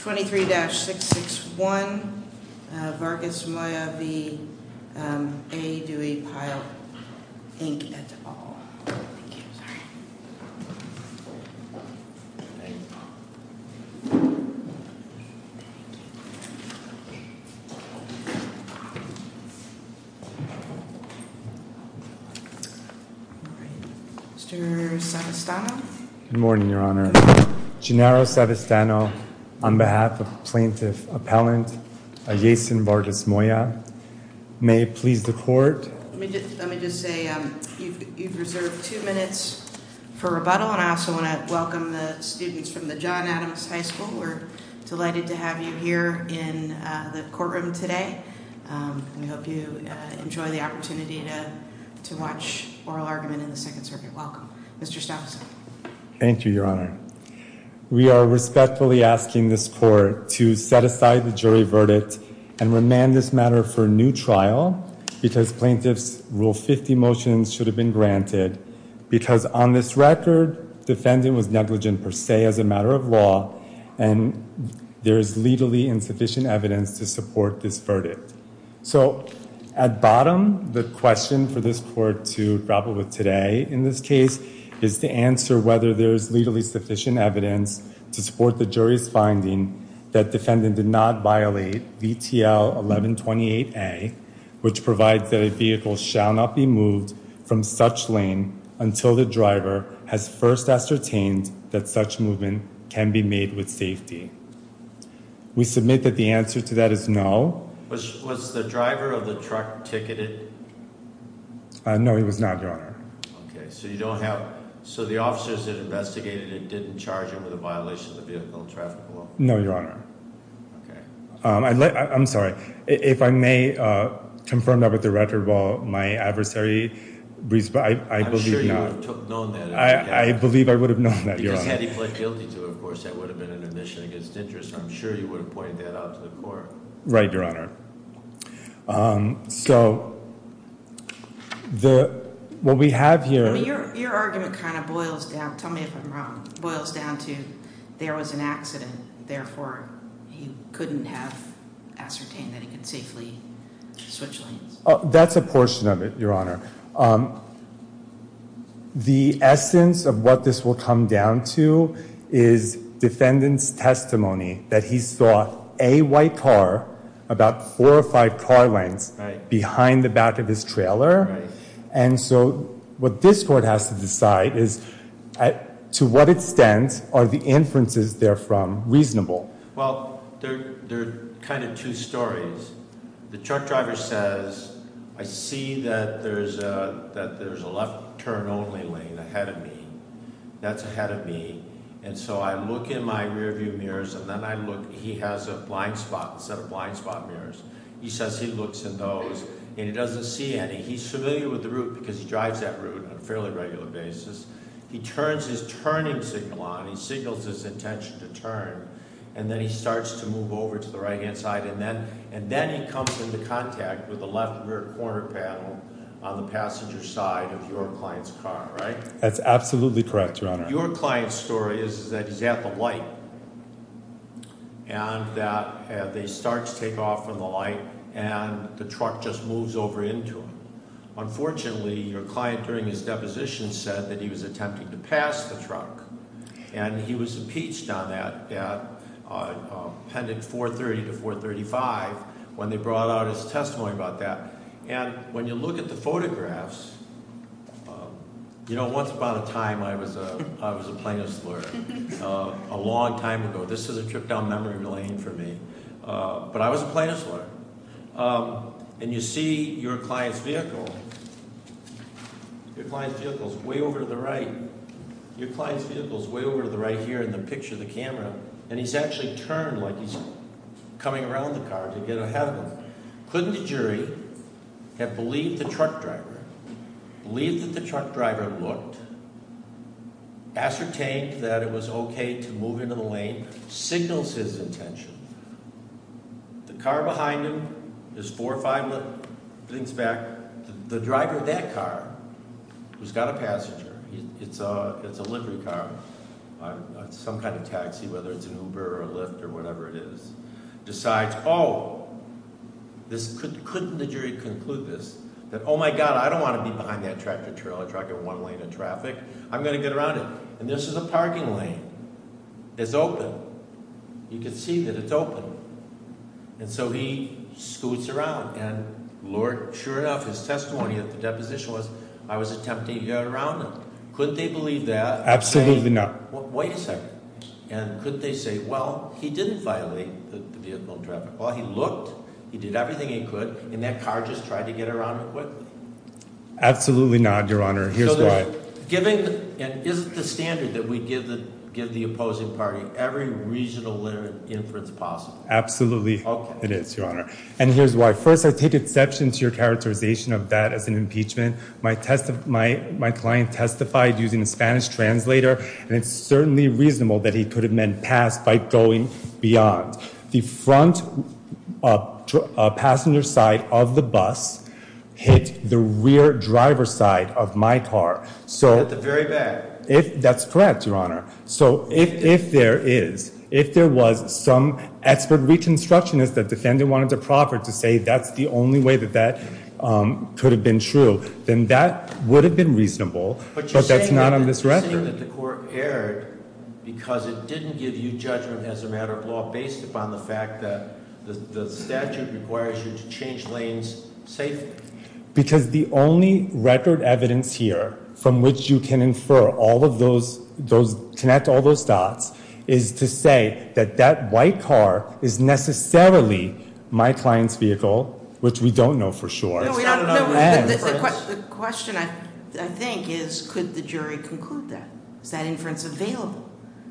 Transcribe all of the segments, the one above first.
23-661, Vargas-Moya v. A. Duie Pyle, Inc., et al. Thank you. Sorry. Mr. Savistano? Good morning, Your Honor. Gennaro Savistano, on behalf of Plaintiff Appellant Jason Vargas-Moya. May it please the Court. Let me just say, you've reserved two minutes for rebuttal, and I also want to welcome the students from the John Adams High School. We're delighted to have you here in the courtroom today. We hope you enjoy the opportunity to watch Oral Argument in the Second Circuit. Welcome, Mr. Savistano. Thank you, Your Honor. We are respectfully asking this Court to set aside the jury verdict and remand this matter for a new trial, because Plaintiff's Rule 50 motions should have been granted, because on this record, defendant was negligent per se as a matter of law, and there is legally insufficient evidence to support this verdict. So, at bottom, the question for this Court to grapple with today in this case is to answer whether there is legally sufficient evidence to support the jury's finding that defendant did not violate VTL 1128A, which provides that a vehicle shall not be moved from such lane until the driver has first ascertained that such movement can be made with safety. We submit that the answer to that is no. Was the driver of the truck ticketed? No, he was not, Your Honor. Okay, so you don't have—so the officers that investigated it didn't charge him with a violation of the Vehicle and Traffic Law? No, Your Honor. Okay. I'm sorry. If I may confirm that with the record, while my adversary— I'm sure you would have known that. I believe I would have known that, Your Honor. Because had he pled guilty to it, of course, that would have been an admission against interest. I'm sure you would have pointed that out to the Court. Right, Your Honor. So what we have here— Your argument kind of boils down—tell me if I'm wrong—boils down to there was an accident, therefore he couldn't have ascertained that he could safely switch lanes. That's a portion of it, Your Honor. The essence of what this will come down to is defendant's testimony that he saw a white car, about four or five car lengths, behind the back of his trailer. Right. And so what this Court has to decide is to what extent are the inferences therefrom reasonable? Well, they're kind of two stories. The truck driver says, I see that there's a left-turn-only lane ahead of me. That's ahead of me. And so I look in my rearview mirrors, and then I look—he has a blind spot, a set of blind spot mirrors. He says he looks in those, and he doesn't see any. He's familiar with the route because he drives that route on a fairly regular basis. He turns his turning signal on. He signals his intention to turn. And then he starts to move over to the right-hand side. And then he comes into contact with the left rear corner panel on the passenger side of your client's car, right? That's absolutely correct, Your Honor. Your client's story is that he's at the light and that they start to take off from the light, and the truck just moves over into him. Unfortunately, your client during his deposition said that he was attempting to pass the truck, and he was impeached on that at Appendix 430 to 435 when they brought out his testimony about that. And when you look at the photographs—you know, once upon a time I was a plaintiff's lawyer, a long time ago. This is a trip down memory lane for me. But I was a plaintiff's lawyer. And you see your client's vehicle. Your client's vehicle is way over to the right. Your client's vehicle is way over to the right here in the picture of the camera. And he's actually turned like he's coming around the car to get ahead of him. Couldn't the jury have believed the truck driver, believed that the truck driver looked, ascertained that it was okay to move into the lane, signals his intention. The car behind him is four or five things back. The driver of that car, who's got a passenger—it's a livery car, some kind of taxi, whether it's an Uber or a Lyft or whatever it is— decides, oh, couldn't the jury conclude this, that, oh my God, I don't want to be behind that tractor trailer truck in one lane of traffic. I'm going to get around it. And this is a parking lane. It's open. You can see that it's open. And so he scoots around. And, Lord, sure enough, his testimony at the deposition was, I was attempting to get around it. Could they believe that? Absolutely not. Wait a second. And could they say, well, he didn't violate the vehicle traffic law. He looked. He did everything he could. And that car just tried to get around it quickly. Absolutely not, Your Honor. Here's why. So given—and is it the standard that we give the opposing party every regional literate inference possible? Absolutely it is, Your Honor. And here's why. First, I take exception to your characterization of that as an impeachment. My client testified using a Spanish translator, and it's certainly reasonable that he could have meant pass by going beyond. The front passenger side of the bus hit the rear driver's side of my car. So— At the very back. That's correct, Your Honor. So if there is, if there was some expert reconstructionist that the defendant wanted to proffer to say that's the only way that that could have been true, then that would have been reasonable. But you're saying— But that's not on this record. You're saying that the court erred because it didn't give you judgment as a matter of law based upon the fact that the statute requires you to change lanes safely? Because the only record evidence here from which you can infer all of those, connect all those dots, is to say that that white car is necessarily my client's vehicle, which we don't know for sure. The question, I think, is could the jury conclude that? Is that inference available?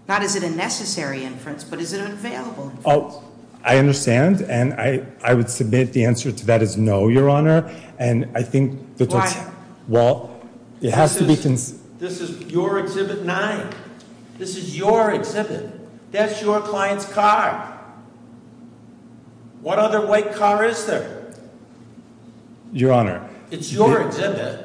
Not is it a necessary inference, but is it an available inference? Oh, I understand, and I would submit the answer to that is no, Your Honor. And I think— Why? Well, it has to be— This is your Exhibit 9. This is your exhibit. That's your client's car. What other white car is there? Your Honor— It's your exhibit.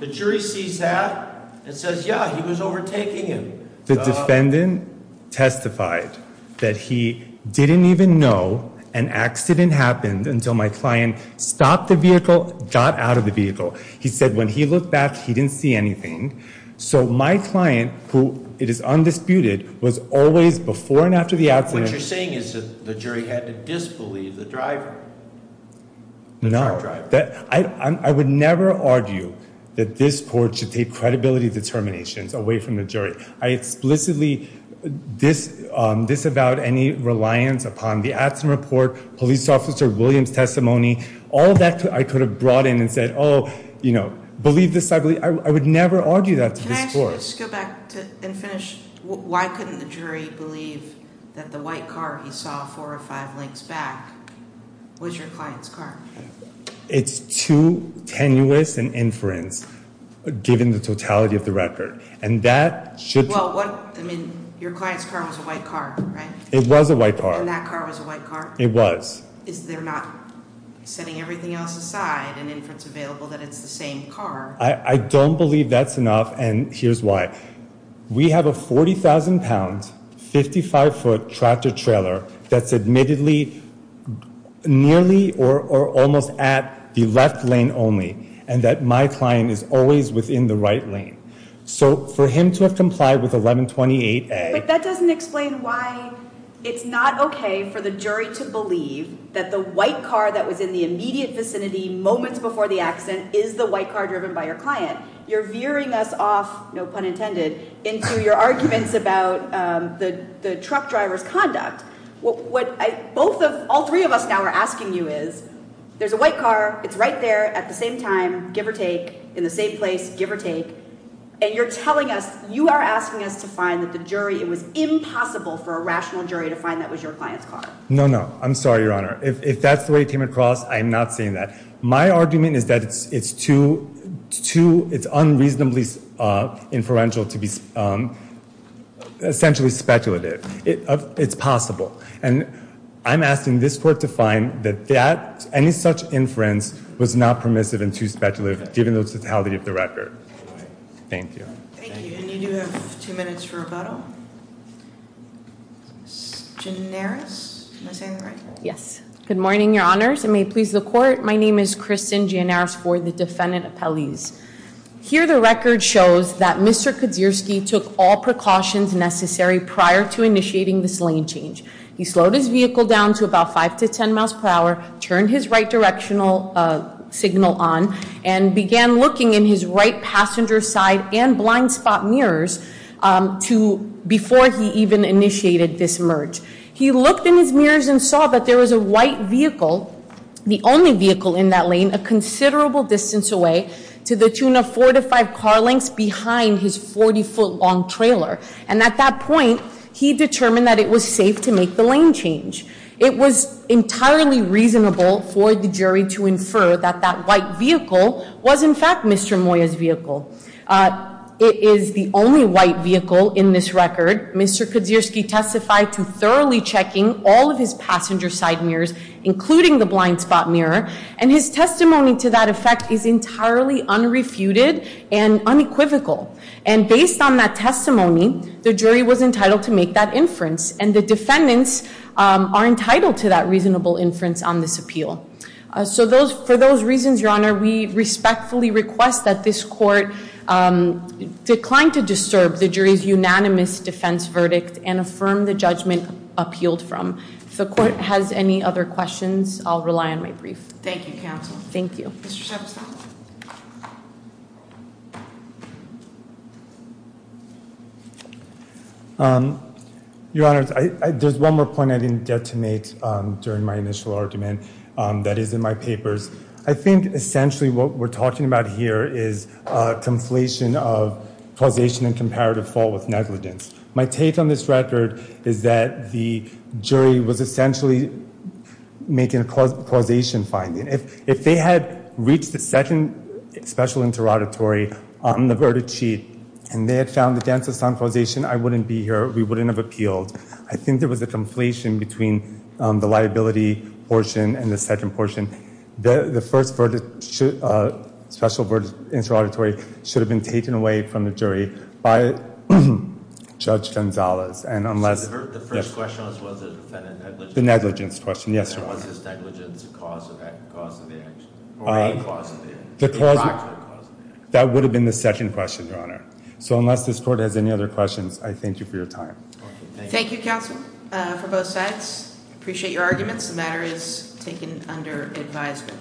The jury sees that and says, yeah, he was overtaking him. The defendant testified that he didn't even know an accident happened until my client stopped the vehicle, got out of the vehicle. He said when he looked back, he didn't see anything. So my client, who it is undisputed, was always before and after the accident— What you're saying is that the jury had to disbelieve the driver, the truck driver. No. I would never argue that this court should take credibility determinations away from the jury. I explicitly disavowed any reliance upon the accident report, police officer Williams' testimony. All of that I could have brought in and said, oh, you know, believe this, I believe—I would never argue that to this court. Can I just go back and finish? Why couldn't the jury believe that the white car he saw four or five lengths back was your client's car? It's too tenuous an inference, given the totality of the record. And that should— Well, what—I mean, your client's car was a white car, right? It was a white car. And that car was a white car? It was. Is there not, setting everything else aside, an inference available that it's the same car? I don't believe that's enough, and here's why. We have a 40,000-pound, 55-foot tractor-trailer that's admittedly nearly or almost at the left lane only, and that my client is always within the right lane. So for him to have complied with 1128A— that the white car that was in the immediate vicinity moments before the accident is the white car driven by your client, you're veering us off—no pun intended—into your arguments about the truck driver's conduct. What I—both of—all three of us now are asking you is, there's a white car. It's right there at the same time, give or take, in the same place, give or take, and you're telling us—you are asking us to find that the jury— it was impossible for a rational jury to find that was your client's car. No, no. I'm sorry, Your Honor. If that's the way it came across, I am not saying that. My argument is that it's too—it's unreasonably inferential to be essentially speculative. It's possible, and I'm asking this court to find that any such inference was not permissive and too speculative, given the totality of the record. Thank you. Thank you, and you do have two minutes for rebuttal. Janaris, am I saying that right? Yes. Good morning, Your Honors. It may please the court. My name is Kristen Janaris Ford, the defendant appellees. Here, the record shows that Mr. Kaczynski took all precautions necessary prior to initiating this lane change. He slowed his vehicle down to about 5 to 10 miles per hour, turned his right directional signal on, and began looking in his right passenger side and blind spot mirrors before he even initiated this merge. He looked in his mirrors and saw that there was a white vehicle, the only vehicle in that lane, a considerable distance away to the tune of 4 to 5 car lengths behind his 40-foot-long trailer. And at that point, he determined that it was safe to make the lane change. It was entirely reasonable for the jury to infer that that white vehicle was, in fact, Mr. Moya's vehicle. It is the only white vehicle in this record. Mr. Kaczynski testified to thoroughly checking all of his passenger side mirrors, including the blind spot mirror, and his testimony to that effect is entirely unrefuted and unequivocal. And based on that testimony, the jury was entitled to make that inference, and the defendants are entitled to that reasonable inference on this appeal. So for those reasons, Your Honor, we respectfully request that this court decline to disturb the jury's unanimous defense verdict and affirm the judgment appealed from. If the court has any other questions, I'll rely on my brief. Thank you, counsel. Thank you. Mr. Shepson. Your Honor, there's one more point I didn't get to make during my initial argument that is in my papers. I think essentially what we're talking about here is a conflation of causation and comparative fault with negligence. My take on this record is that the jury was essentially making a causation finding. If they had reached the second special interrogatory on the verdict sheet and they had found the dancer's causation, I wouldn't be here, we wouldn't have appealed. I think there was a conflation between the liability portion and the second portion. The first special interrogatory should have been taken away from the jury by Judge Gonzalez. So the first question was, was the defendant negligent? The negligence question, yes, Your Honor. Was his negligence a cause of the action or a cause of the action? That would have been the second question, Your Honor. So unless this court has any other questions, I thank you for your time. Thank you, counsel, for both sides. Appreciate your arguments. The matter is taken under advisement.